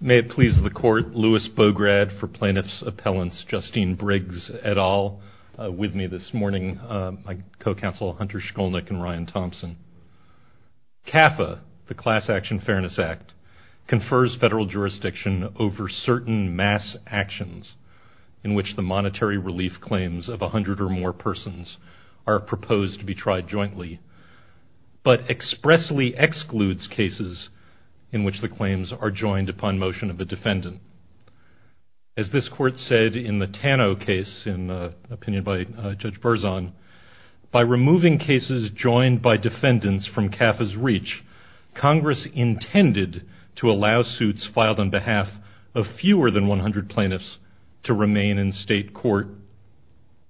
May it please the Court, Louis Bograd for Plaintiff's Appellants, Justine Briggs et al., with me this morning, my co-counsel Hunter Shkolnick and Ryan Thompson. CAFA, the Class Action Fairness Act, confers federal jurisdiction over certain mass actions in which the monetary relief claims of a hundred or more persons are proposed to be tried jointly, but expressly excludes cases in which the claims are joined upon motion of a defendant. As this Court said in the Tano case, in opinion by Judge Berzon, by removing cases joined by defendants from CAFA's reach, Congress intended to allow suits filed on behalf of fewer than 100 plaintiffs to remain in state court,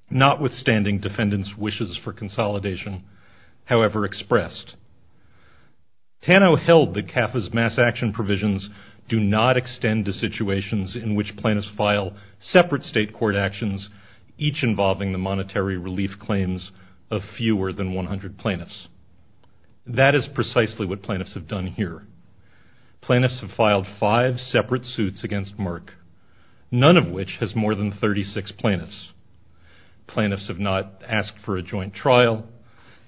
notwithstanding defendants' wishes for consolidation, however expressed. Tano held that CAFA's mass action provisions do not extend to situations in which plaintiffs file separate state court actions, each involving the monetary relief claims of fewer than 100 plaintiffs. That is precisely what plaintiffs have done here. Plaintiffs have filed five separate suits against Merck, none of which has more than 36 plaintiffs. Plaintiffs have not asked for a joint trial.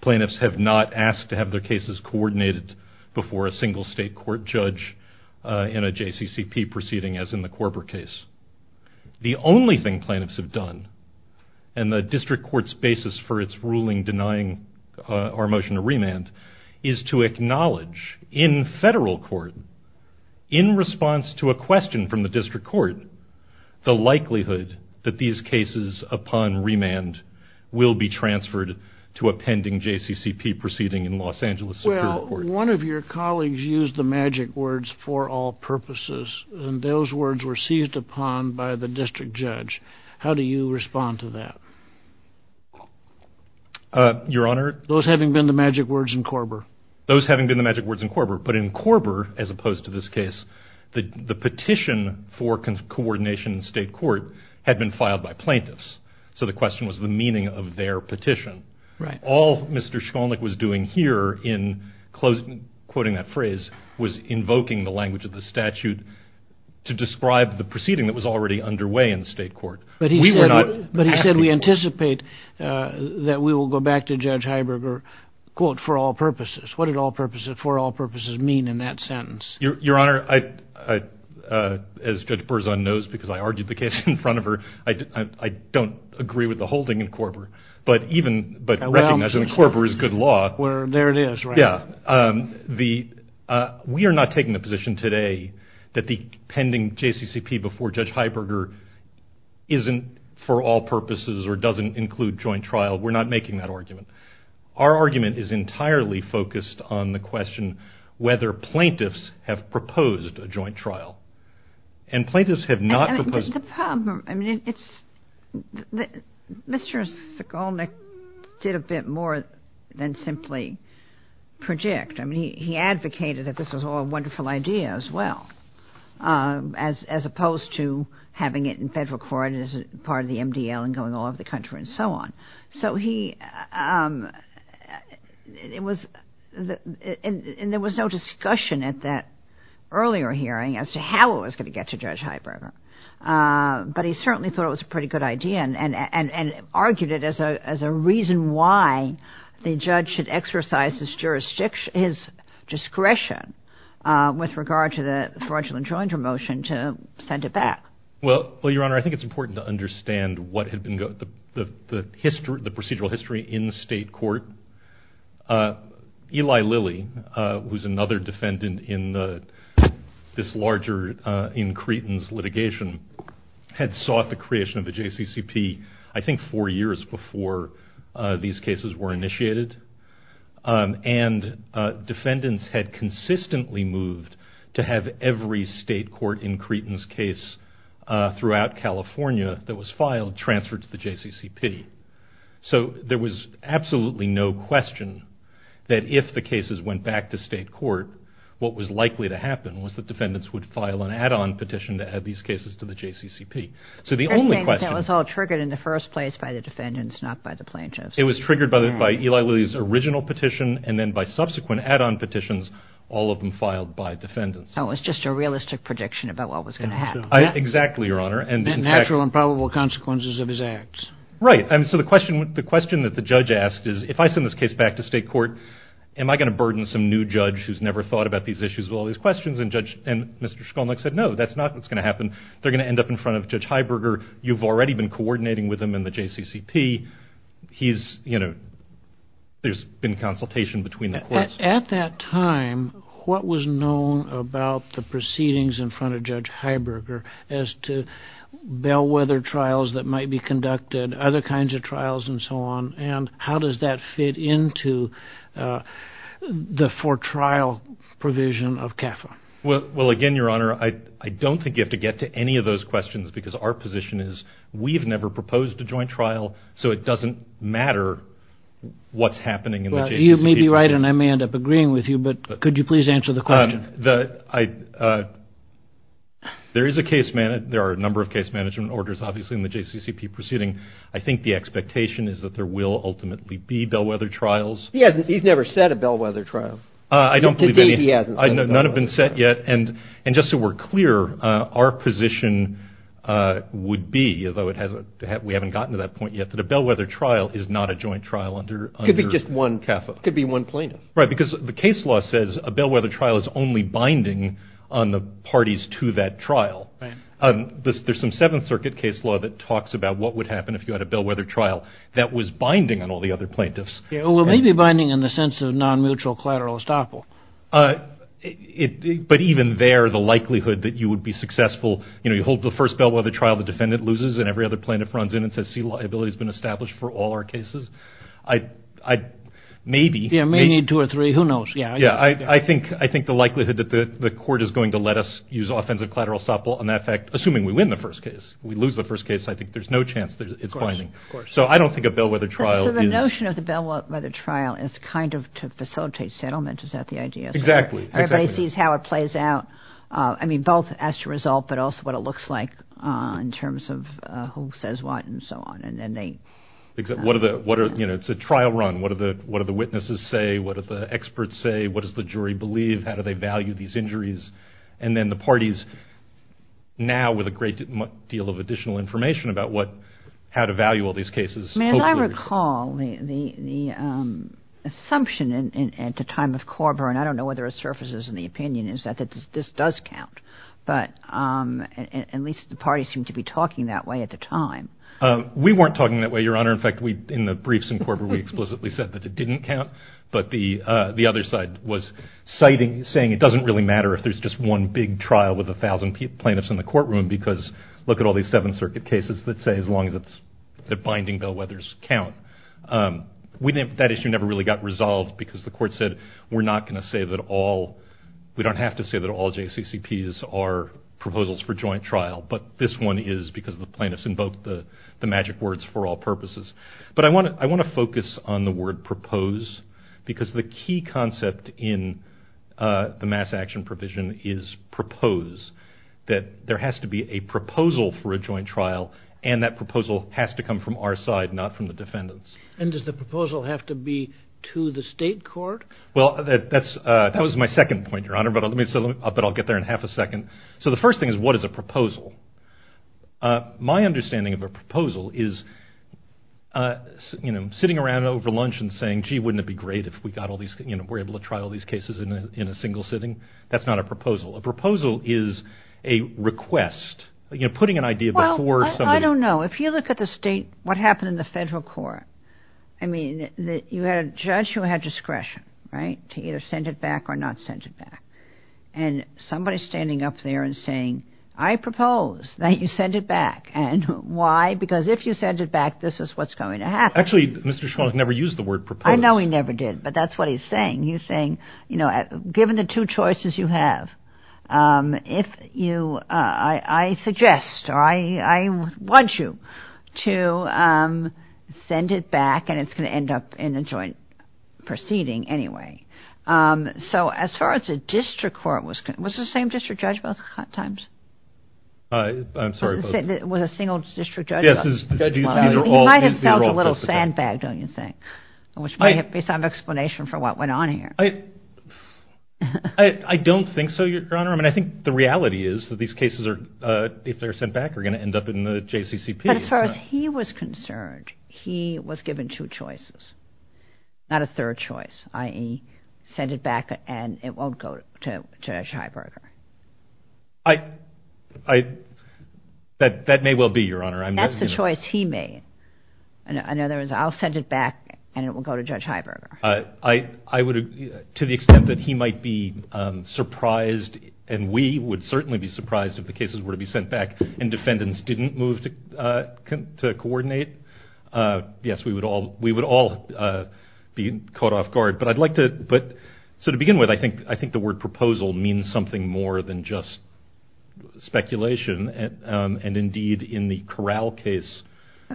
Plaintiffs have not asked to have their cases coordinated before a single state court judge in a JCCP proceeding, as in the Korber case. The only thing plaintiffs have done, and the District Court's basis for its ruling denying our motion to remand, is to acknowledge in federal court, in response to a question from the District Court, the likelihood that these cases upon remand will be transferred to a pending JCCP proceeding in Los Angeles Superior Court. Well, one of your colleagues used the magic words, for all purposes, and those words were seized upon by the District Judge. How do you respond to that? Your Honor? Those having been the magic words in Korber. Those having been the magic words in Korber, but in Korber, as opposed to this case, the petition for coordination in state court had been filed by plaintiffs, so the question was the meaning of their petition. All Mr. Shkolnick was doing here in quoting that phrase was invoking the language of the statute to describe the proceeding that was already underway in state court. But he said we anticipate that we will go back to Judge Heiberger, quote, for all purposes. What did for all purposes mean in that sentence? Your Honor, as Judge Berzon knows because I argued the case in front of her, I don't agree with the holding in Korber, but recognizing Korber is good law. There it is. We are not taking the position today that the pending JCCP before Judge Heiberger isn't for all purposes or doesn't include joint trial. We're not making that argument. Our argument is entirely focused on the question whether plaintiffs have proposed a joint trial, and plaintiffs have not proposed. The problem, I mean, Mr. Shkolnick did a bit more than simply project. I mean, he advocated that this was all a wonderful idea as well as opposed to having it in federal court as part of the MDL and going all over the country and so on. So he, it was, and there was no discussion at that earlier hearing as to how it was going to get to Judge Heiberger. But he certainly thought it was a pretty good idea and argued it as a reason why the judge should exercise his discretion with regard to the fraudulent joint promotion to send it back. Well, Your Honor, I think it's important to understand what had been the procedural history in state court. Eli Lilly, who's another defendant in this larger, in Creighton's litigation, had sought the creation of the JCCP I think four years before these cases were initiated. And defendants had consistently moved to have every state court in Creighton's case throughout California that was filed transferred to the JCCP. So there was absolutely no question that if the cases went back to state court, what was likely to happen was that defendants would file an add-on petition to add these cases to the JCCP. So the only question... I think that was all triggered in the first place by the defendants, not by the plaintiffs. It was triggered by Eli Lilly's original petition and then by subsequent add-on petitions, all of them filed by defendants. Oh, it was just a realistic prediction about what was going to happen. Exactly, Your Honor. Natural and probable consequences of his acts. Right. So the question that the judge asked is, if I send this case back to state court, am I going to burden some new judge who's never thought about these issues with all these questions? And Mr. Shkolnick said, no, that's not what's going to happen. They're going to end up in front of Judge Heiberger. You've already been coordinating with him in the JCCP. He's, you know, there's been consultation between the courts. At that time, what was known about the proceedings in front of Judge Heiberger as to bellwether trials that might be conducted, other kinds of trials and so on, and how does that fit into the for-trial provision of CAFA? Well, again, Your Honor, I don't think you have to get to any of those questions because our position is we've never proposed a joint trial, so it doesn't matter what's happening in the JCCP. Well, you may be right and I may end up agreeing with you, but could you please answer the question? There is a case management, there are a number of case management orders, obviously, in the JCCP proceeding. I think the expectation is that there will ultimately be bellwether trials. He's never said a bellwether trial. I don't believe any. To date, he hasn't said a bellwether trial. And just so we're clear, our position would be, although we haven't gotten to that point yet, that a bellwether trial is not a joint trial under CAFA. It could be just one plaintiff. Right, because the case law says a bellwether trial is only binding on the parties to that trial. There's some Seventh Circuit case law that talks about what would happen if you had a bellwether trial that was binding on all the other plaintiffs. Well, it may be binding in the sense of non-mutual collateral estoppel. But even there, the likelihood that you would be successful, you know, you hold the first bellwether trial, the defendant loses, and every other plaintiff runs in and says liability has been established for all our cases. Maybe. You may need two or three. Who knows? Yeah, I think the likelihood that the court is going to let us use offensive collateral estoppel on that fact, assuming we win the first case, we lose the first case, I think there's no chance it's binding. So I don't think a bellwether trial is. So the notion of the bellwether trial is kind of to facilitate settlement. Is that the idea? Exactly. Everybody sees how it plays out. I mean, both as to result but also what it looks like in terms of who says what and so on. And then they. What are the, you know, it's a trial run. What do the witnesses say? What do the experts say? What does the jury believe? How do they value these injuries? And then the parties now with a great deal of additional information about what, how to value all these cases. As I recall, the assumption at the time of Korber, and I don't know whether it surfaces in the opinion, is that this does count. But at least the parties seem to be talking that way at the time. We weren't talking that way, Your Honor. In fact, in the briefs in Korber, we explicitly said that it didn't count. But the other side was citing, saying it doesn't really matter if there's just one big trial with a thousand plaintiffs in the courtroom, because look at all these Seventh Circuit cases that say as long as it's, that binding bellwethers count. We didn't, that issue never really got resolved because the court said, we're not going to say that all, we don't have to say that all JCCPs are proposals for joint trial. But this one is because the plaintiffs invoked the magic words for all purposes. But I want to focus on the word propose, because the key concept in the mass action provision is propose. That there has to be a proposal for a joint trial, and that proposal has to come from our side, not from the defendants. And does the proposal have to be to the state court? Well, that's, that was my second point, Your Honor, but let me, but I'll get there in half a second. So the first thing is what is a proposal? My understanding of a proposal is, you know, sitting around over lunch and saying, gee, wouldn't it be great if we got all these, you know, we're able to trial these cases in a single sitting? That's not a proposal. A proposal is a request, you know, putting an idea before somebody. Well, I don't know. If you look at the state, what happened in the federal court, I mean, you had a judge who had discretion, right, to either send it back or not send it back. And somebody's standing up there and saying, I propose that you send it back. And why? Because if you send it back, this is what's going to happen. Actually, Mr. Schwartz never used the word propose. I know he never did, but that's what he's saying. He's saying, you know, given the two choices you have, if you, I suggest, or I want you to send it back and it's going to end up in a joint proceeding anyway. So as far as a district court was concerned, was it the same district judge both times? I'm sorry. Was it a single district judge? Yes. He might have felt a little sandbagged, don't you think, which might be some explanation for what went on here. I don't think so, Your Honor. I mean, I think the reality is that these cases are, if they're sent back, are going to end up in the JCCP. But as far as he was concerned, he was given two choices, not a third choice, i.e., send it back and it won't go to Judge Heiberger. I, that may well be, Your Honor. That's the choice he made. In other words, I'll send it back and it will go to Judge Heiberger. I would, to the extent that he might be surprised and we would certainly be surprised if the cases were to be sent back and defendants didn't move to coordinate, yes, we would all be caught off guard. But I'd like to, so to begin with, I think the word proposal means something more than just speculation. And indeed, in the Corral case.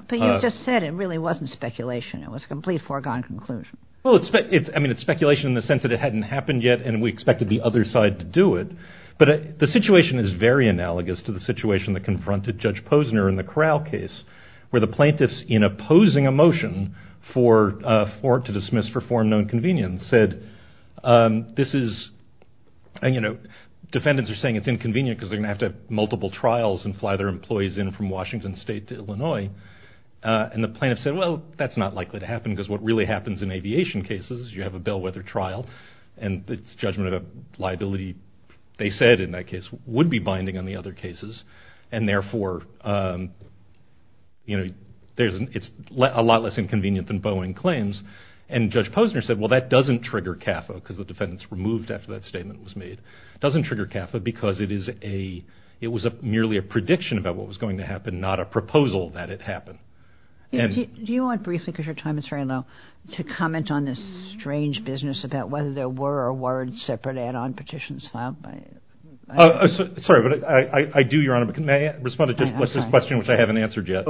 But you just said it really wasn't speculation. It was a complete foregone conclusion. Well, I mean, it's speculation in the sense that it hadn't happened yet and we expected the other side to do it. But the situation is very analogous to the situation that confronted Judge Posner in the Corral case where the plaintiffs, in opposing a motion to dismiss for foreign known convenience, said, this is, you know, defendants are saying it's inconvenient because they're going to have to have multiple trials and fly their employees in from Washington State to Illinois. And the plaintiffs said, well, that's not likely to happen because what really happens in aviation cases is you have a bellwether trial and it's judgment of liability, they said in that case, would be binding on the other cases. And therefore, you know, it's a lot less inconvenient than Boeing claims. And Judge Posner said, well, that doesn't trigger CAFA because the defendants were moved after that statement was made. It doesn't trigger CAFA because it was merely a prediction about what was going to happen, not a proposal that it happened. Do you want briefly, because your time is very low, to comment on this strange business about whether there were or weren't separate add-on petitions filed? Sorry, but I do, Your Honor, but can I respond to this question which I haven't answered yet?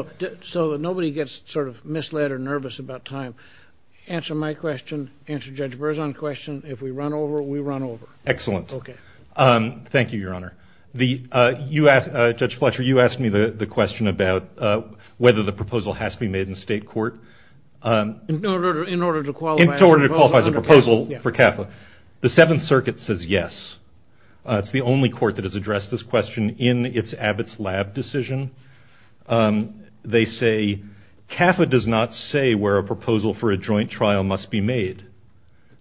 So nobody gets sort of misled or nervous about time. Answer my question, answer Judge Berzon's question. If we run over, we run over. Excellent. Okay. Thank you, Your Honor. Judge Fletcher, you asked me the question about whether the proposal has to be made in state court. In order to qualify as a proposal for CAFA. The Seventh Circuit says yes. It's the only court that has addressed this question in its Abbott's Lab decision. They say CAFA does not say where a proposal for a joint trial must be made,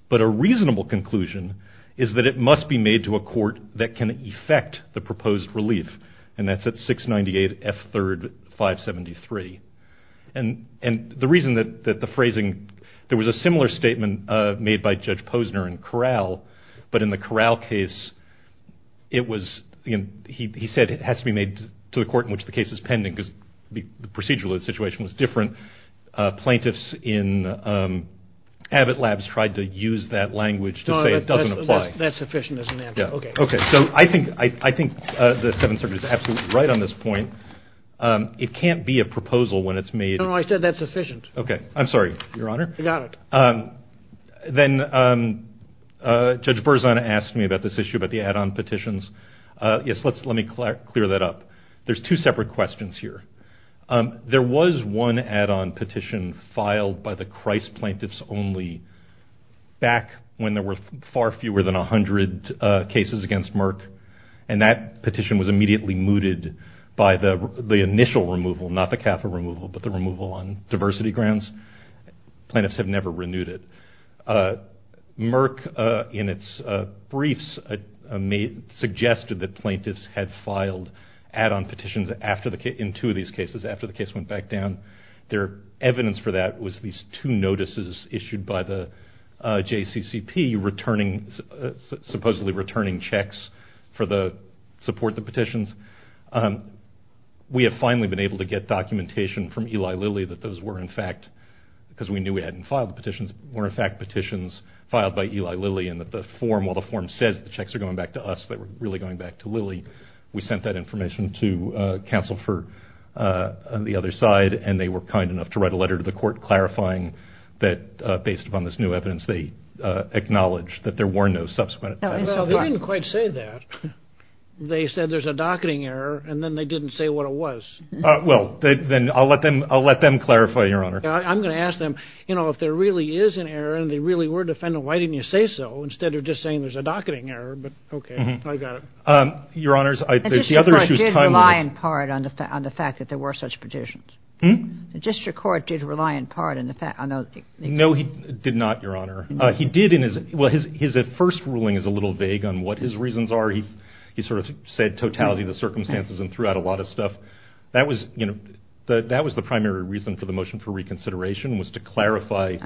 but a reasonable conclusion is that it must be made to a court that can effect the proposed relief. And that's at 698 F3rd 573. And the reason that the phrasing, there was a similar statement made by Judge Posner in Corral, but in the Corral case it was, he said it has to be made to the court in which the case is pending because the procedural situation was different. Plaintiffs in Abbott Labs tried to use that language to say it doesn't apply. That's sufficient as an answer. Okay. So I think the Seventh Circuit is absolutely right on this point. It can't be a proposal when it's made. I said that's sufficient. Okay. I'm sorry, Your Honor. I got it. Then Judge Berzon asked me about this issue, about the add-on petitions. Yes, let me clear that up. There's two separate questions here. There was one add-on petition filed by the Christ plaintiffs only back when there were far fewer than 100 cases against Merck. And that petition was immediately mooted by the initial removal, not the CAFA removal, but the removal on diversity grounds. Plaintiffs have never renewed it. Merck in its briefs suggested that plaintiffs had filed add-on petitions in two of these cases after the case went back down. Their evidence for that was these two notices issued by the JCCP supposedly returning checks to support the petitions. We have finally been able to get documentation from Eli Lilly that those were, in fact, because we knew we hadn't filed the petitions, were, in fact, petitions filed by Eli Lilly and that the form, while the form says the checks are going back to us, they were really going back to Lilly. We sent that information to counsel on the other side, and they were kind enough to write a letter to the court clarifying that, based upon this new evidence, they acknowledge that there were no subsequent petitions. Well, they didn't quite say that. They said there's a docketing error, and then they didn't say what it was. Well, then I'll let them clarify, Your Honor. I'm going to ask them, you know, if there really is an error and they really were defendant, why didn't you say so instead of just saying there's a docketing error? But, okay, I got it. Your Honors, the other issue is timely. The district court did rely in part on the fact that there were such petitions. The district court did rely in part in the fact on those. No, he did not, Your Honor. He did in his, well, his first ruling is a little vague on what his reasons are. He sort of said totality of the circumstances and threw out a lot of stuff. That was, you know, that was the primary reason for the motion for reconsideration was to clarify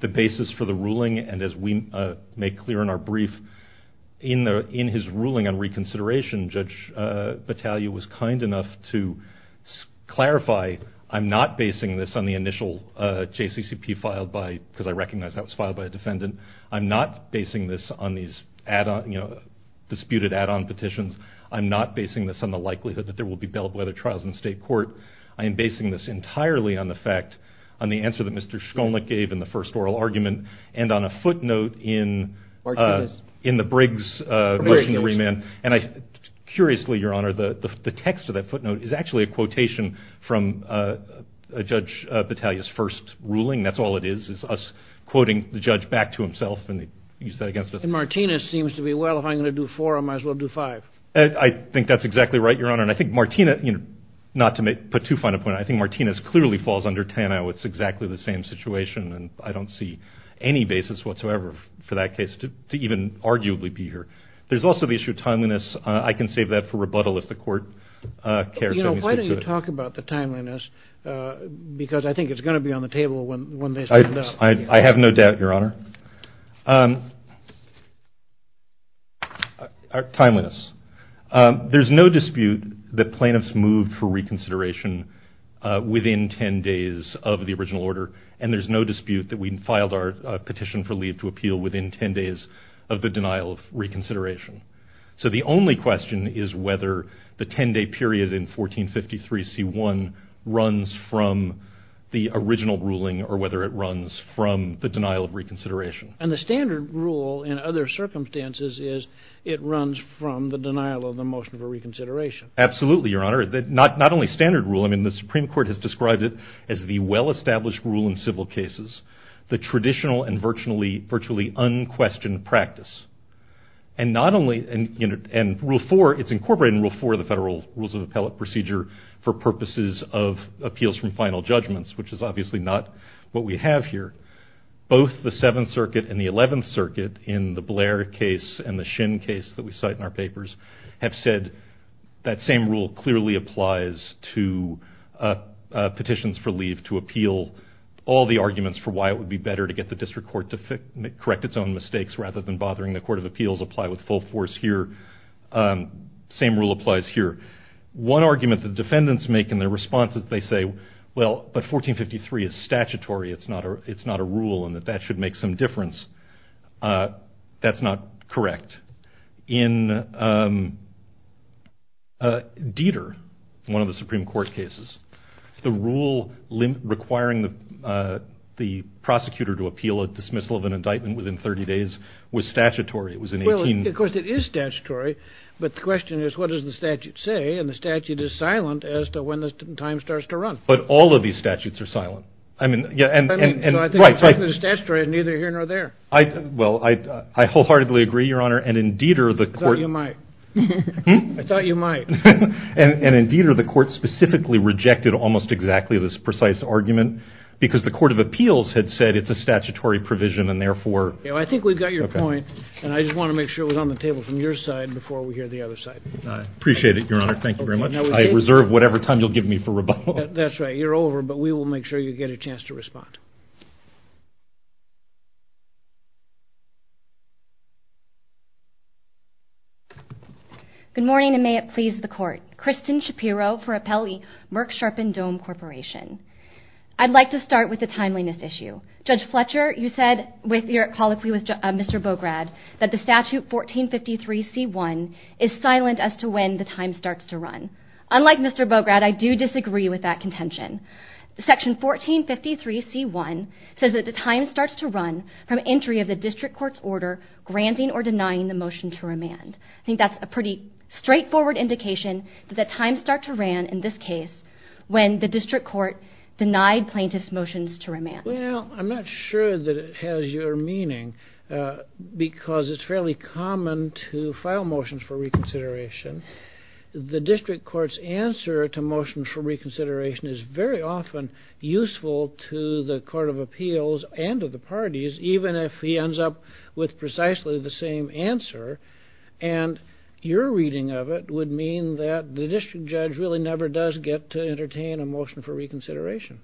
the basis for the ruling, and as we make clear in our brief, in his ruling on reconsideration, Judge Battaglia was kind enough to clarify, I'm not basing this on the initial JCCP filed by, because I recognize that was filed by a defendant. I'm not basing this on these disputed add-on petitions. I'm not basing this on the likelihood that there will be bellwether trials in state court. I am basing this entirely on the fact, on the answer that Mr. Shkolnick gave in the first oral argument and on a footnote in the Briggs motion to remand. And I, curiously, Your Honor, the text of that footnote is actually a quotation from Judge Battaglia's first ruling. That's all it is, is us quoting the judge back to himself, and you said against us. And Martinez seems to be, well, if I'm going to do four, I might as well do five. I think that's exactly right, Your Honor, and I think Martinez, not to put too fine a point on it, I think Martinez clearly falls under Tano. It's exactly the same situation, and I don't see any basis whatsoever for that case to even arguably be here. There's also the issue of timeliness. I can save that for rebuttal if the court cares to speak to it. Why don't you talk about the timeliness, because I think it's going to be on the table when they stand up. I have no doubt, Your Honor. Timeliness. There's no dispute that plaintiffs moved for reconsideration within 10 days of the original order, and there's no dispute that we filed our petition for leave to appeal within 10 days of the denial of reconsideration. So the only question is whether the 10-day period in 1453 C.I. runs from the original ruling or whether it runs from the denial of reconsideration. And the standard rule in other circumstances is Absolutely, Your Honor. Not only standard rule. I mean, the Supreme Court has described it as the well-established rule in civil cases, the traditional and virtually unquestioned practice. And not only in Rule 4, it's incorporated in Rule 4 of the Federal Rules of Appellate Procedure for purposes of appeals from final judgments, which is obviously not what we have here. Both the Seventh Circuit and the Eleventh Circuit in the Blair case and the Shin case that we cite in our papers have said that same rule clearly applies to petitions for leave to appeal. All the arguments for why it would be better to get the District Court to correct its own mistakes rather than bothering the Court of Appeals apply with full force here. Same rule applies here. One argument the defendants make in their responses, they say, well, but 1453 is statutory. It's not a rule and that that should make some difference. That's not correct. In Dieter, one of the Supreme Court cases, the rule requiring the prosecutor to appeal a dismissal of an indictment within 30 days was statutory. It was in 18... Well, of course it is statutory, but the question is what does the statute say and the statute is silent as to when the time starts to run. But all of these statutes are silent. So I think it's either here or there. Well, I wholeheartedly agree, Your Honor, and in Dieter the Court... I thought you might. And in Dieter the Court specifically rejected almost exactly this precise argument because the Court of Appeals had said it's a statutory provision and therefore... I think we've got your point and I just want to make sure it was on the table from your side before we hear the other side. I appreciate it, Your Honor. Thank you very much. I reserve whatever time you'll give me for rebuttal. That's right. You're over, but we will make sure you get a chance to respond. Good morning and may it please the Court. Kristen Shapiro for Appellee Merck Sharpen Dome Corporation. I'd like to start with the timeliness issue. Judge Fletcher, you said with your colloquy with Mr. Bograd that the statute 1453C1 is silent as to when the time starts to run. Unlike Mr. Bograd, I do disagree with that contention. Section 1453C1 says that the time starts to run from entry of the district court's order granting or denying the motion to remand. I think that's a pretty straightforward indication that the time starts to ran in this case when the district court denied plaintiff's motions to remand. Well, I'm not sure that it has your meaning because it's fairly common to file motions for reconsideration. The district court's answer to motions for reconsideration is very often useful to the Court of Appeals and to the parties even if he ends up with precisely the same answer. And your reading of it would mean that the district judge really never does get to entertain a motion for reconsideration.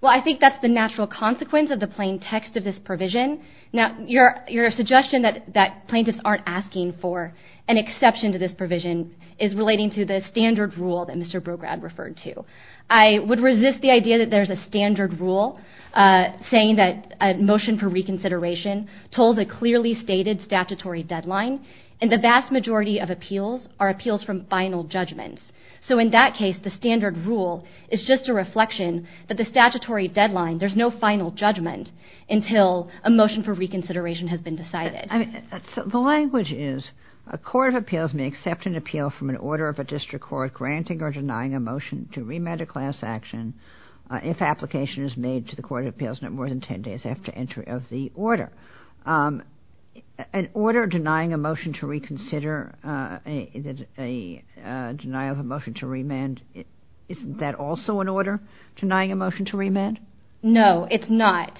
Well, I think that's the natural consequence of the plain text of this provision. Now, your suggestion that plaintiffs aren't asking for an exception to this provision is relating to the standard rule that Mr. Bograd referred to. I would resist the idea that there's a standard rule saying that a motion for reconsideration told a clearly stated statutory deadline and the vast majority of appeals are appeals from final judgments. So in that case, the standard rule is just a reflection that the statutory deadline there's no final judgment until a motion for reconsideration has been decided. The language is a court of appeals may accept an appeal from an order of a district court granting or denying a motion to remand a class action if application is made to the Court of Appeals no more than 10 days after entry of the order. An order denying a motion to reconsider a denial of a motion to remand isn't that also an order denying a motion to remand? No, it's not.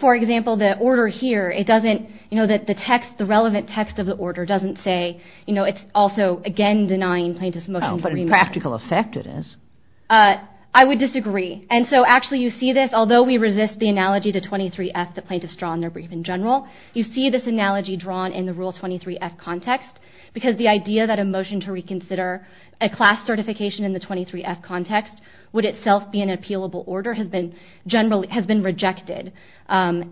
For example, the order here it doesn't, you know, that the text, the relevant text of the order doesn't say, you know, it's also again denying plaintiffs motion to remand. Oh, but in practical effect it is. I would disagree. And so actually you see this although we resist the analogy to 23F that plaintiffs draw in their brief in general you see this analogy drawn in the Rule 23F context because the idea that a motion to reconsider a class certification in the 23F context would itself be an appealable order has been rejected. Otherwise,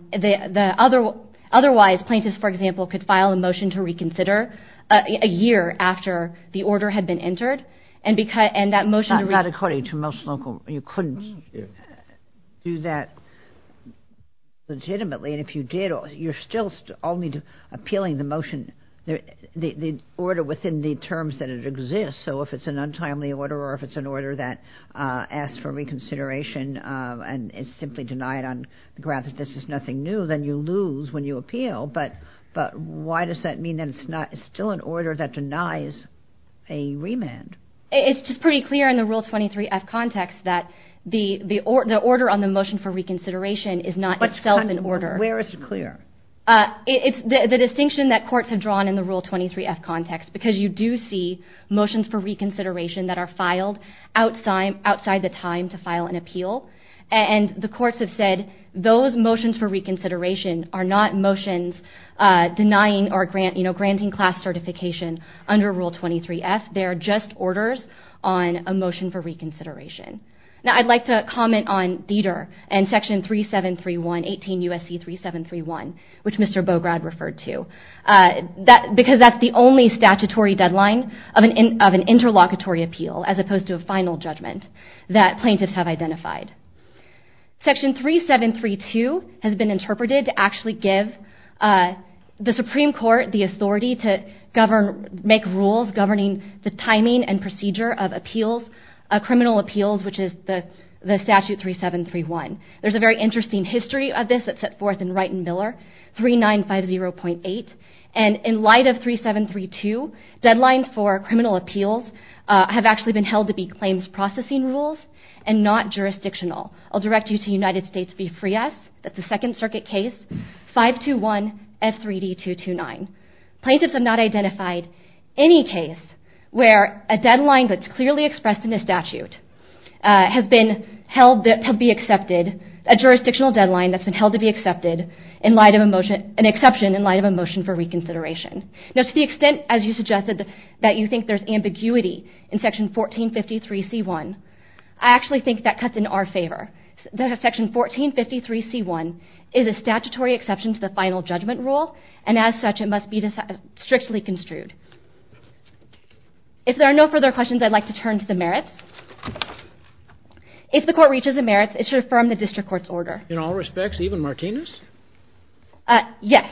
plaintiffs, for example, could file a motion to reconsider a year after the order had been entered and that motion to reconsider Not according to most local, you couldn't do that legitimately and if you did you're still appealing the motion the order within the terms that it exists so if it's an untimely order or if it's an order that asks for reconsideration and is simply denied on the grounds that this is nothing new, then you lose when you appeal. But why does that mean that it's still an order that denies a remand? It's just pretty clear in the Rule 23F context that the order on the motion for reconsideration is not itself an order. Where is it clear? It's the distinction that courts have drawn in the Rule 23F context because you do see motions for reconsideration that are filed outside the time to file an appeal and the courts have said those motions for reconsideration are not motions denying or granting class certification under Rule 23F they are just orders on a motion for reconsideration. Now I'd like to comment on Dieter and Section 3731, 18 U.S.C. 3731 which Mr. Bograd referred to because that's the only statutory deadline of an interlocutory appeal as opposed to a final judgment that plaintiffs have identified. Section 3732 has been interpreted to actually give the Supreme Court the authority to make rules governing the timing and procedure of criminal appeals which is the Statute 3731. There's a very interesting history of this that's set forth in Wright & Miller 3950.8 and in light of 3732 deadlines for criminal appeals have actually been held to be claims processing rules and not jurisdictional. I'll direct you to United States v. Frias, that's the Second Circuit case 521 F3D 229. Plaintiffs have not identified any case where a deadline that's clearly expressed in the statute has been held to be accepted a jurisdictional deadline that's been held to be accepted in light of a motion, an exception in light of a motion for reconsideration. Now to the extent as you suggested that you think there's ambiguity in Section 1453 C1 I actually think that cuts in our favor. Section 1453 C1 is a statutory exception to the final judgment rule and as such it must be strictly construed. If there are no further questions I'd like to turn to the merits. If the court reaches the merits it should affirm the district court's order. In all respects, even Martinez? Yes,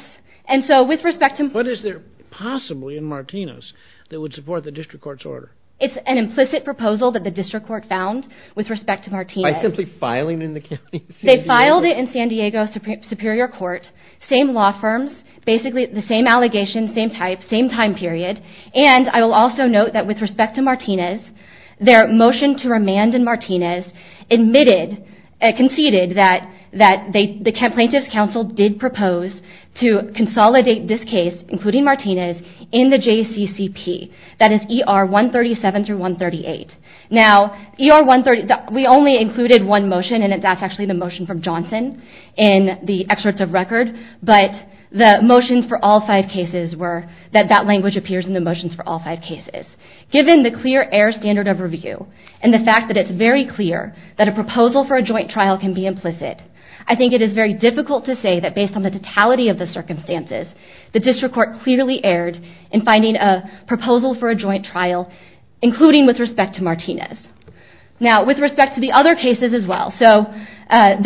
and so with respect to... But is there possibly in Martinez that would support the district court's order? It's an implicit proposal that the district court found with respect to Martinez. By simply filing in the county? They filed it in San Diego Superior Court same law firms, basically the same allegations, same type, same time period and I will also note that with respect to Martinez their motion to remand in Martinez conceded that the Plaintiff's Council did propose to consolidate this case, including Martinez in the JCCP, that is ER 137-138. Now, ER 138 we only included one motion and that's actually the motion from Johnson in the excerpts of record, but the motions for all five cases were that that language appears in the motions for all five cases. Given the clear air standard of review and the fact that it's very clear that a proposal for a joint trial can be implicit I think it is very difficult to say that based on the totality of the circumstances the district court clearly erred in finding a proposal for a joint trial including with respect to Martinez. Now, with respect to the other cases as well to kind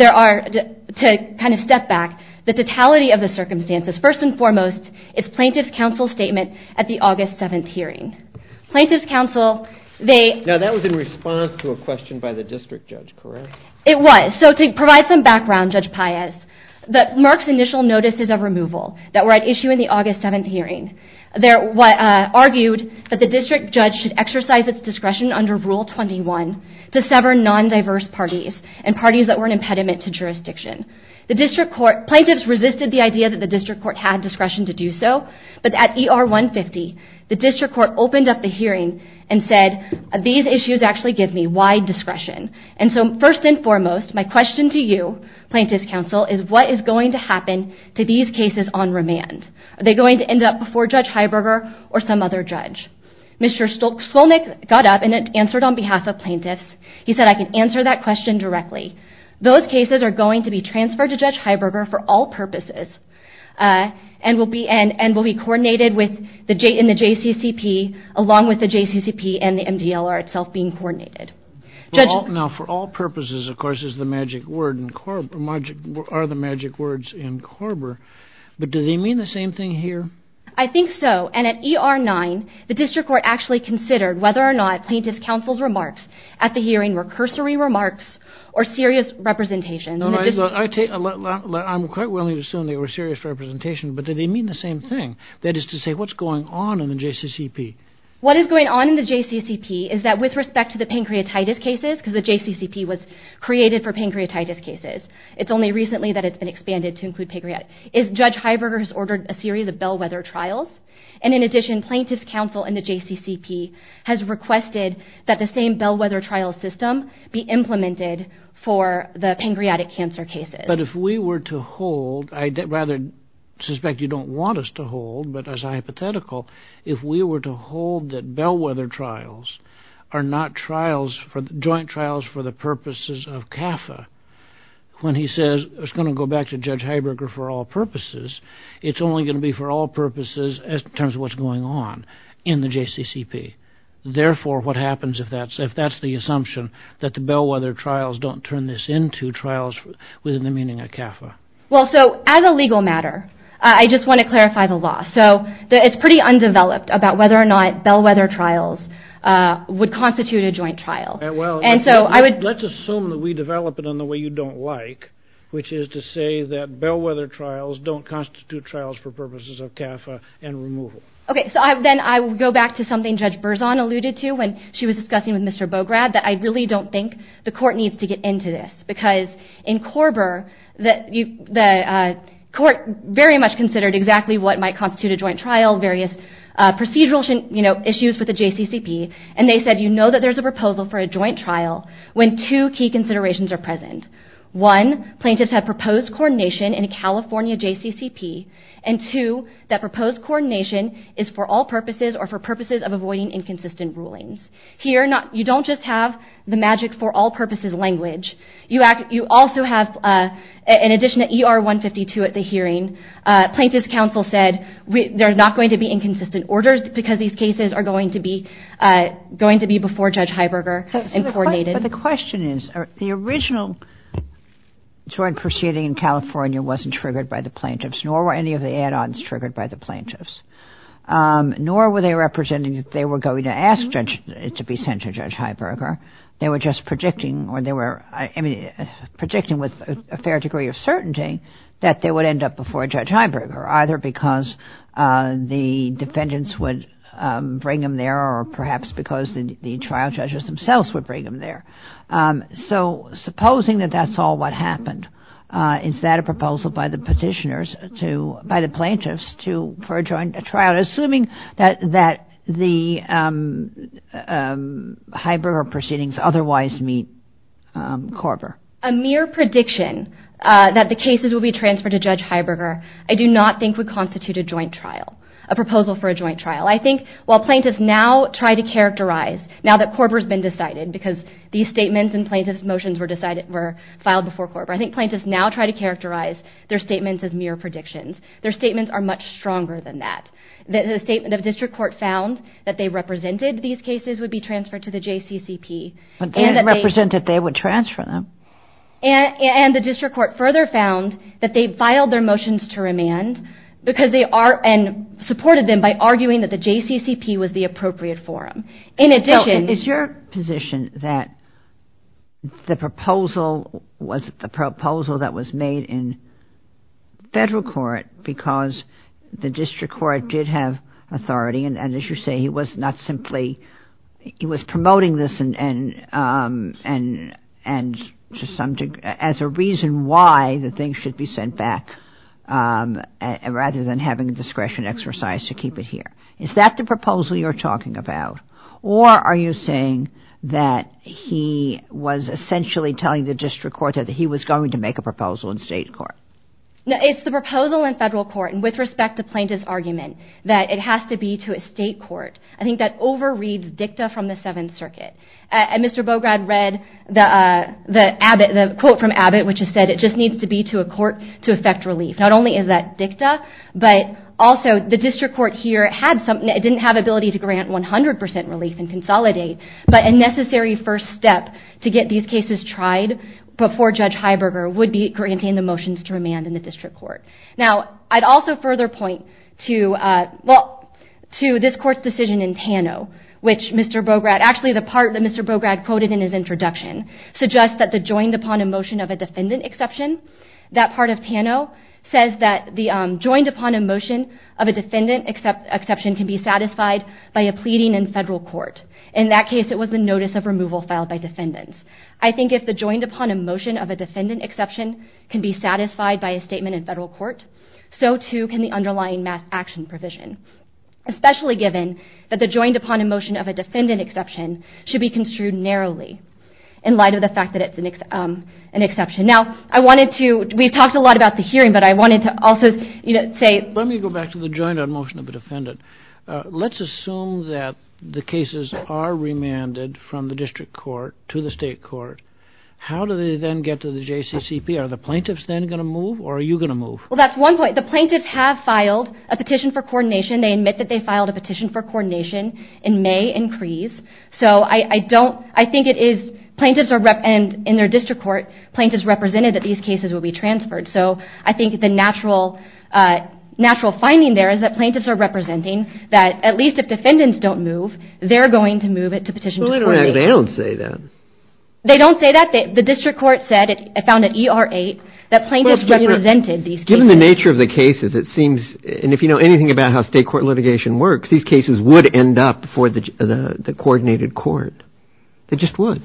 of step back the totality of the circumstances, first and foremost is Plaintiff's Council's statement at the August 7th hearing. Plaintiff's Council, they... Now that was in response to a question by the district judge, correct? It was. So to provide some background, Judge Paez Merck's initial notices of removal that were at issue in the August 7th hearing argued that the district judge should exercise its discretion under Rule 21 to sever non-diverse parties and parties that were an impediment to jurisdiction. Plaintiffs resisted the idea that the district court had discretion to do so, but at ER 150 the district court opened up the hearing and said, these issues actually give me wide discretion. And so first and foremost, my question to you Plaintiff's Council, is what is going to happen to these cases on remand? Are they going to end up before Judge Heiberger or some other judge? Mr. Skolnick got up and answered on behalf of plaintiffs, he said I can answer that question directly. Those cases are going to be transferred to Judge Heiberger for all purposes and will be coordinated with the JCCP along with the JCCP and the MDLR itself being coordinated. Now for all purposes, of course, is the magic word are the magic words in Korber but do they mean the same thing here? I think so, and at ER 9, the district court actually considered whether or not Plaintiff's Council's remarks at the hearing were cursory remarks or serious representations. I'm quite willing to assume they were serious representations, but do they mean the same thing? That is to say, what's going on in the JCCP? What is going on in the JCCP is that with respect to the pancreatitis cases because the JCCP was created for pancreatitis cases it's only recently that it's been expanded to include pancreatitis Judge Heiberger has ordered a series of bellwether trials and in addition, Plaintiff's Council and the JCCP has requested that the same bellwether trial system be implemented for the pancreatic cancer cases. But if we were to hold, I'd rather suspect you don't want us to hold, but as a hypothetical if we were to hold that bellwether trials are not trials, joint trials for the purposes of CAFA when he says, it's going to go back to Judge Heiberger for all purposes it's only going to be for all purposes in terms of what's going on in the JCCP. Therefore, what happens if that's the assumption that the bellwether trials don't turn this into trials within the meaning of CAFA? As a legal matter, I just want to clarify the law. It's pretty undeveloped about whether or not bellwether trials would constitute a joint trial. Let's assume that we develop it in the way you don't like which is to say that bellwether trials don't constitute trials for purposes of CAFA and removal. Then I will go back to something Judge Berzon alluded to when she was discussing with Mr. Bograd that I really don't think the court needs to get into this because in Korber, the court very much considered exactly what might constitute a joint trial and filed various procedural issues with the JCCP and they said, you know that there's a proposal for a joint trial when two key considerations are present. One, plaintiffs have proposed coordination in a California JCCP and two, that proposed coordination is for all purposes or for purposes of avoiding inconsistent rulings. Here, you don't just have the magic for all purposes language. You also have, in addition to ER 152 at the hearing plaintiff's counsel said they're not going to be inconsistent orders because these cases are going to be before Judge Heiberger and coordinated. The question is, the original joint proceeding in California wasn't triggered by the plaintiffs nor were any of the add-ons triggered by the plaintiffs. Nor were they representing that they were going to ask it to be sent to Judge Heiberger. They were just predicting with a fair degree of certainty that they would end up before Judge Heiberger either because the defendants would bring them there or perhaps because the trial judges themselves would bring them there. So, supposing that that's all what happened is that a proposal by the petitioners by the plaintiffs for a joint trial assuming that the Heiberger proceedings otherwise meet Korver? A mere prediction that the cases would be transferred to Judge Heiberger I do not think would constitute a joint trial. A proposal for a joint trial. I think while plaintiffs now try to characterize now that Korver's been decided because these statements and plaintiff's motions were filed before Korver I think plaintiffs now try to characterize their statements as mere predictions. Their statements are much stronger than that. The District Court found that they represented these cases would be transferred to the JCCP. But they didn't represent that they would transfer them. And the District Court further found that they filed their motions to remand and supported them by arguing that the JCCP was the appropriate forum. Is your position that the proposal was the proposal that was made in federal court because the District Court did have authority and as you say he was not simply he was promoting this as a reason why the things should be sent back rather than having discretion exercise to keep it here. Is that the proposal you're talking about? Or are you saying that he was essentially telling the District Court that he was going to make a proposal in state court? It's the proposal in federal court and with respect to plaintiff's argument that it has to be to a state court. I think that overreads dicta from the 7th Circuit. Mr. Bograd read the quote from Abbott which said it just needs to be to a court to effect relief. Not only is that dicta but also the District Court here didn't have the ability to grant 100% relief and consolidate but a necessary first step to get these cases tried before Judge Heiberger would be granting the motions to remand in the District Court. Now I'd also further point to this court's decision in Tano which Mr. Bograd, actually the part that Mr. Bograd quoted in his introduction suggests that the joined upon a motion of a defendant exception that part of Tano says that the joined upon a motion of a defendant exception can be satisfied by a pleading in federal court. In that case it was the notice of removal filed by defendants. I think if the joined upon a motion of a defendant exception can be satisfied by a statement in federal court so too can the underlying mass action provision especially given that the joined upon a motion of a defendant exception should be construed narrowly in light of the fact that it's an exception. Now I wanted to, we talked a lot about the hearing but I wanted to also say Let me go back to the joined upon motion of a defendant Let's assume that the cases are remanded from the District Court to the State Court How do they then get to the JCCP? Are the plaintiffs then going to move or are you going to move? Well that's one point. The plaintiffs have filed a petition for coordination They admit that they filed a petition for coordination in May and Crease So I don't, I think it is plaintiffs are, in their district court plaintiffs represented that these cases will be transferred So I think the natural finding there is that plaintiffs are representing that at least if defendants don't move they're going to move it to petition for coordination But they don't say that They don't say that. The district court said, it found at ER8 that plaintiffs represented these cases Given the nature of the cases it seems, and if you know anything about how state court litigation works these cases would end up for the coordinated court They just would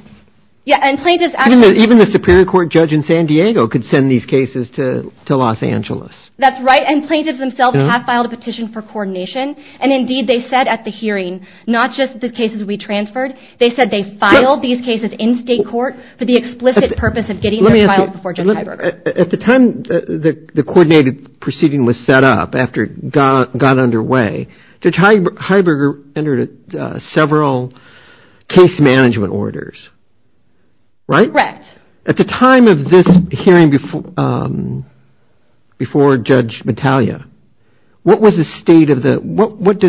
Even the Superior Court judge in San Diego could send these cases to Los Angeles That's right, and plaintiffs themselves have filed a petition for coordination And indeed they said at the hearing, not just the cases we transferred They said they filed these cases in state court for the explicit purpose of getting their files before Judge Heiberger At the time the coordinated proceeding was set up after it got underway Judge Heiberger entered several case management orders At the time of this hearing before Judge Mattaglia What did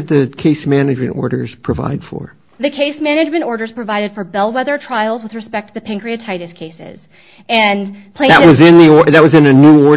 the case management orders provide for? The case management orders provided for bellwether trials with respect to the pancreatitis cases That was in a new order?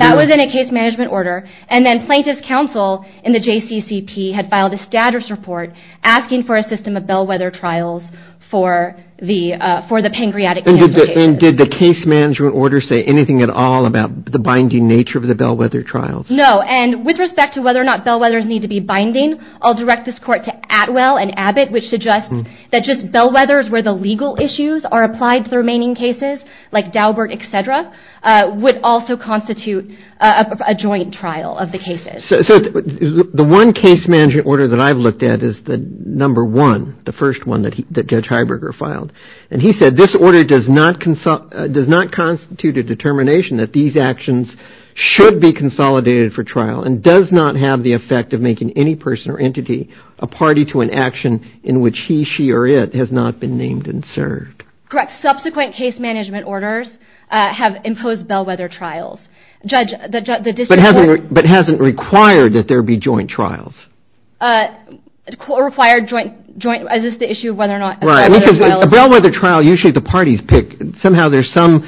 That was in a case management order And then plaintiff's counsel in the JCCP had filed a status report asking for a system of bellwether trials for the pancreatic cancer cases And did the case management order say anything at all about the binding nature of the bellwether trials? No, and with respect to whether or not bellwethers need to be binding I'll direct this court to Atwell and Abbott which suggest that just bellwethers where the legal issues are applied to the remaining cases, like Daubert, etc would also constitute a joint trial of the cases So the one case management order that I've looked at is the number one, the first one that Judge Heiberger filed And he said this order does not constitute a determination that these actions should be consolidated for trial and does not have the effect of making any person or entity a party to an action in which he, she, or it has not been named and served Correct. Subsequent case management orders have imposed bellwether trials But hasn't required that there be joint trials Required joint, is this the issue of whether or not Right, because a bellwether trial, usually the parties pick somehow there's some,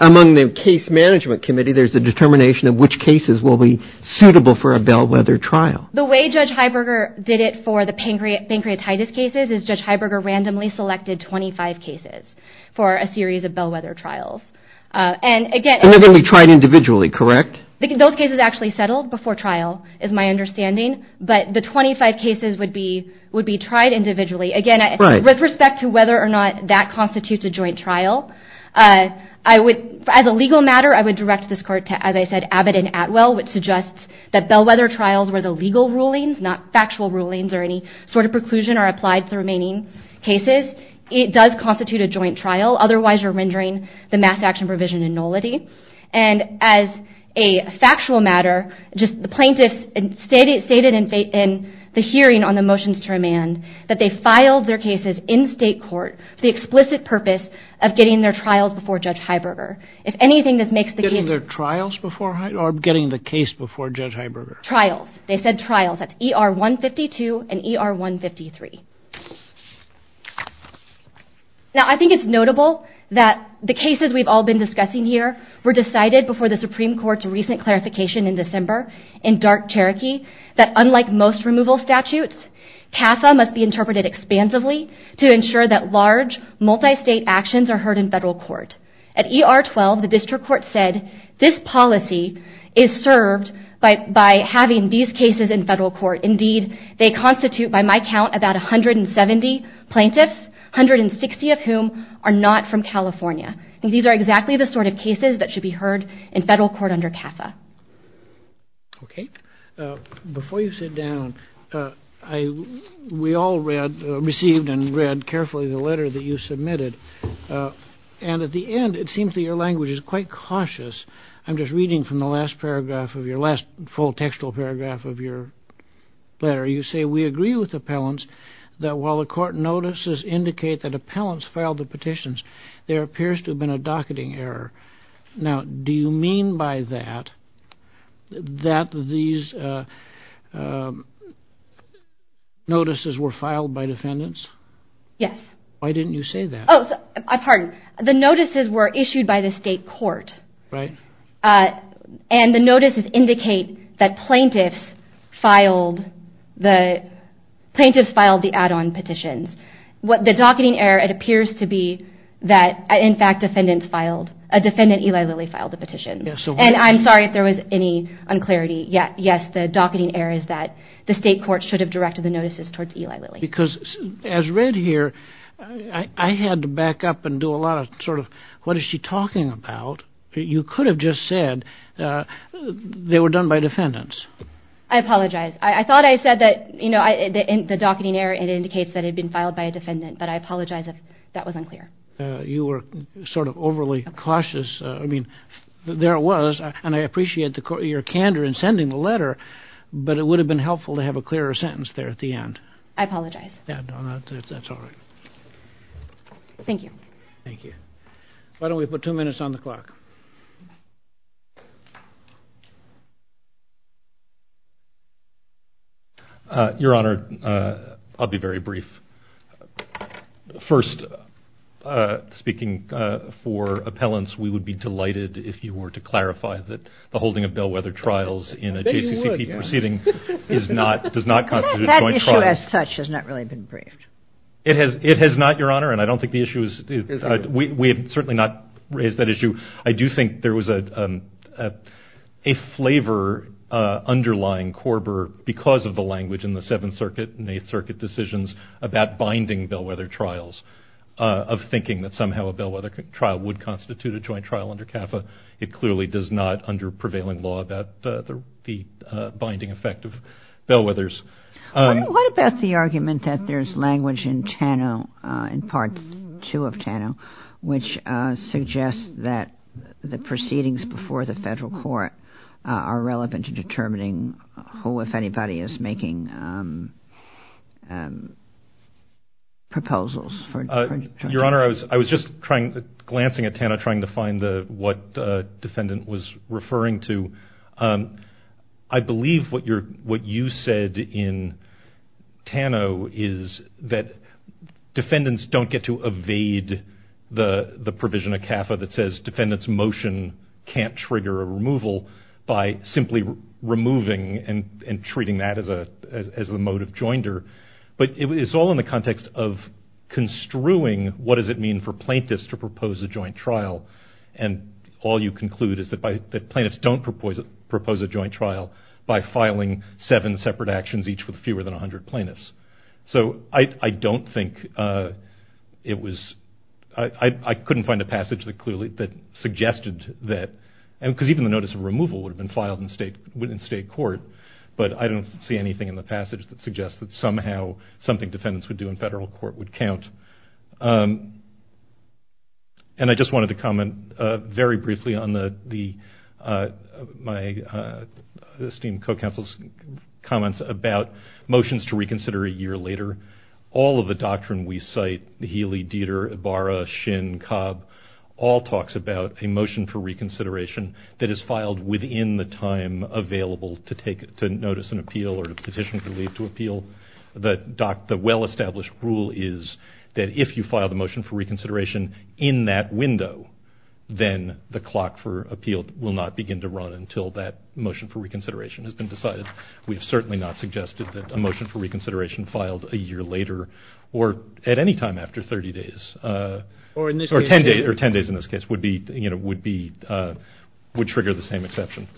among the case management committee there's a determination of which cases will be suitable for a bellwether trial The way Judge Heiberger did it for the pancreatitis cases is Judge Heiberger randomly selected 25 cases for a series of bellwether trials And they're going to be tried individually, correct? Those cases actually settled before trial, is my understanding But the 25 cases would be tried individually Again, with respect to whether or not that constitutes a joint trial I would, as a legal matter I would direct this court to, as I said, Abbott and Atwell which suggests that bellwether trials where the legal rulings not factual rulings or any sort of preclusion are applied to the remaining cases, it does constitute a joint trial Otherwise you're rendering the mass action provision a nullity And as a factual matter the plaintiffs stated in the hearing on the motions to remand that they filed their cases in state court for the explicit purpose of getting their trials before Judge Heiberger Getting their trials before, or getting the case before Judge Heiberger? Trials, they said trials That's ER 152 and ER 153 Now I think it's notable that the cases we've all been discussing here were decided before the Supreme Court's recent clarification in December in dark Cherokee, that unlike most removal statutes CAFA must be interpreted expansively to ensure that large, multi-state actions are heard in federal court At ER 12, the district court said this policy is served by having these cases in federal court Indeed, they constitute by my count about 170 plaintiffs 160 of whom are not from California These are exactly the sort of cases that should be heard in federal court under CAFA Before you sit down we all received and read carefully the letter that you submitted and at the end it seems that your language is quite cautious I'm just reading from the last paragraph the last full textual paragraph of your letter You say, we agree with appellants that while the court notices indicate that appellants filed the petitions there appears to have been a docketing error Now, do you mean by that that these notices were filed by defendants? Yes Why didn't you say that? The notices were issued by the state court and the notices indicate that plaintiffs filed the add-on petitions The docketing error appears to be that a defendant, Eli Lilly, filed the petitions I'm sorry if there was any unclarity Yes, the docketing error is that the state court should have directed the notices towards Eli Lilly Yes, because as read here I had to back up and do a lot of sort of, what is she talking about? You could have just said they were done by defendants I apologize. I thought I said that the docketing error indicates that it had been filed by a defendant but I apologize if that was unclear You were sort of overly cautious I mean, there it was and I appreciate your candor in sending the letter but it would have been helpful to have a clearer sentence there at the end I apologize Thank you Why don't we put two minutes on the clock Your Honor, I'll be very brief First Speaking for appellants, we would be delighted if you were to clarify that the holding of bellwether trials in a JCCC proceeding does not constitute a joint trial That issue as such has not really been briefed It has not, Your Honor We have certainly not raised that issue I do think there was a flavor underlying Korber because of the language in the Seventh Circuit and Eighth Circuit decisions about binding bellwether trials of thinking that somehow a bellwether trial would constitute a joint trial under CAFA It clearly does not under prevailing law about the binding effect of bellwethers What about the argument that there's language in TANO in Part 2 of TANO which suggests that the proceedings before the federal court are relevant to determining who, if anybody, is making proposals Your Honor, I was just glancing at TANO trying to find what the defendant was referring to I believe what you said in TANO is that defendants don't get to evade the provision of CAFA that says defendants' motion can't trigger a removal by simply removing and treating that as a motive joinder It's all in the context of construing what does it mean for plaintiffs to propose a joint trial and all you conclude is that plaintiffs don't propose a joint trial by filing seven separate actions, each with fewer than 100 plaintiffs I don't think I couldn't find a passage that suggested that even the notice of removal would have been filed in state court but I don't see anything in the passage that suggests that somehow something defendants would do in federal court would count and I just wanted to comment very briefly on my esteemed co-counsel's comments about motions to reconsider a year later all of the doctrine we cite Healy, Dieter, Ibarra, Shin, Cobb all talks about a motion for reconsideration that is filed within the time available to notice an appeal or petition for leave to appeal the well-established rule is that if you file the motion for reconsideration in that window then the clock for appeal will not begin to run until that motion for reconsideration has been decided we've certainly not suggested that a motion for reconsideration would be filed a year later or at any time after 30 days or 10 days in this case would trigger the same exception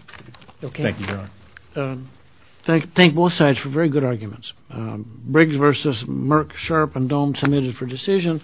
Thank you, Your Honor Thank both sides for very good arguments Briggs vs. Merck, Sharp and Dohm submitted for decision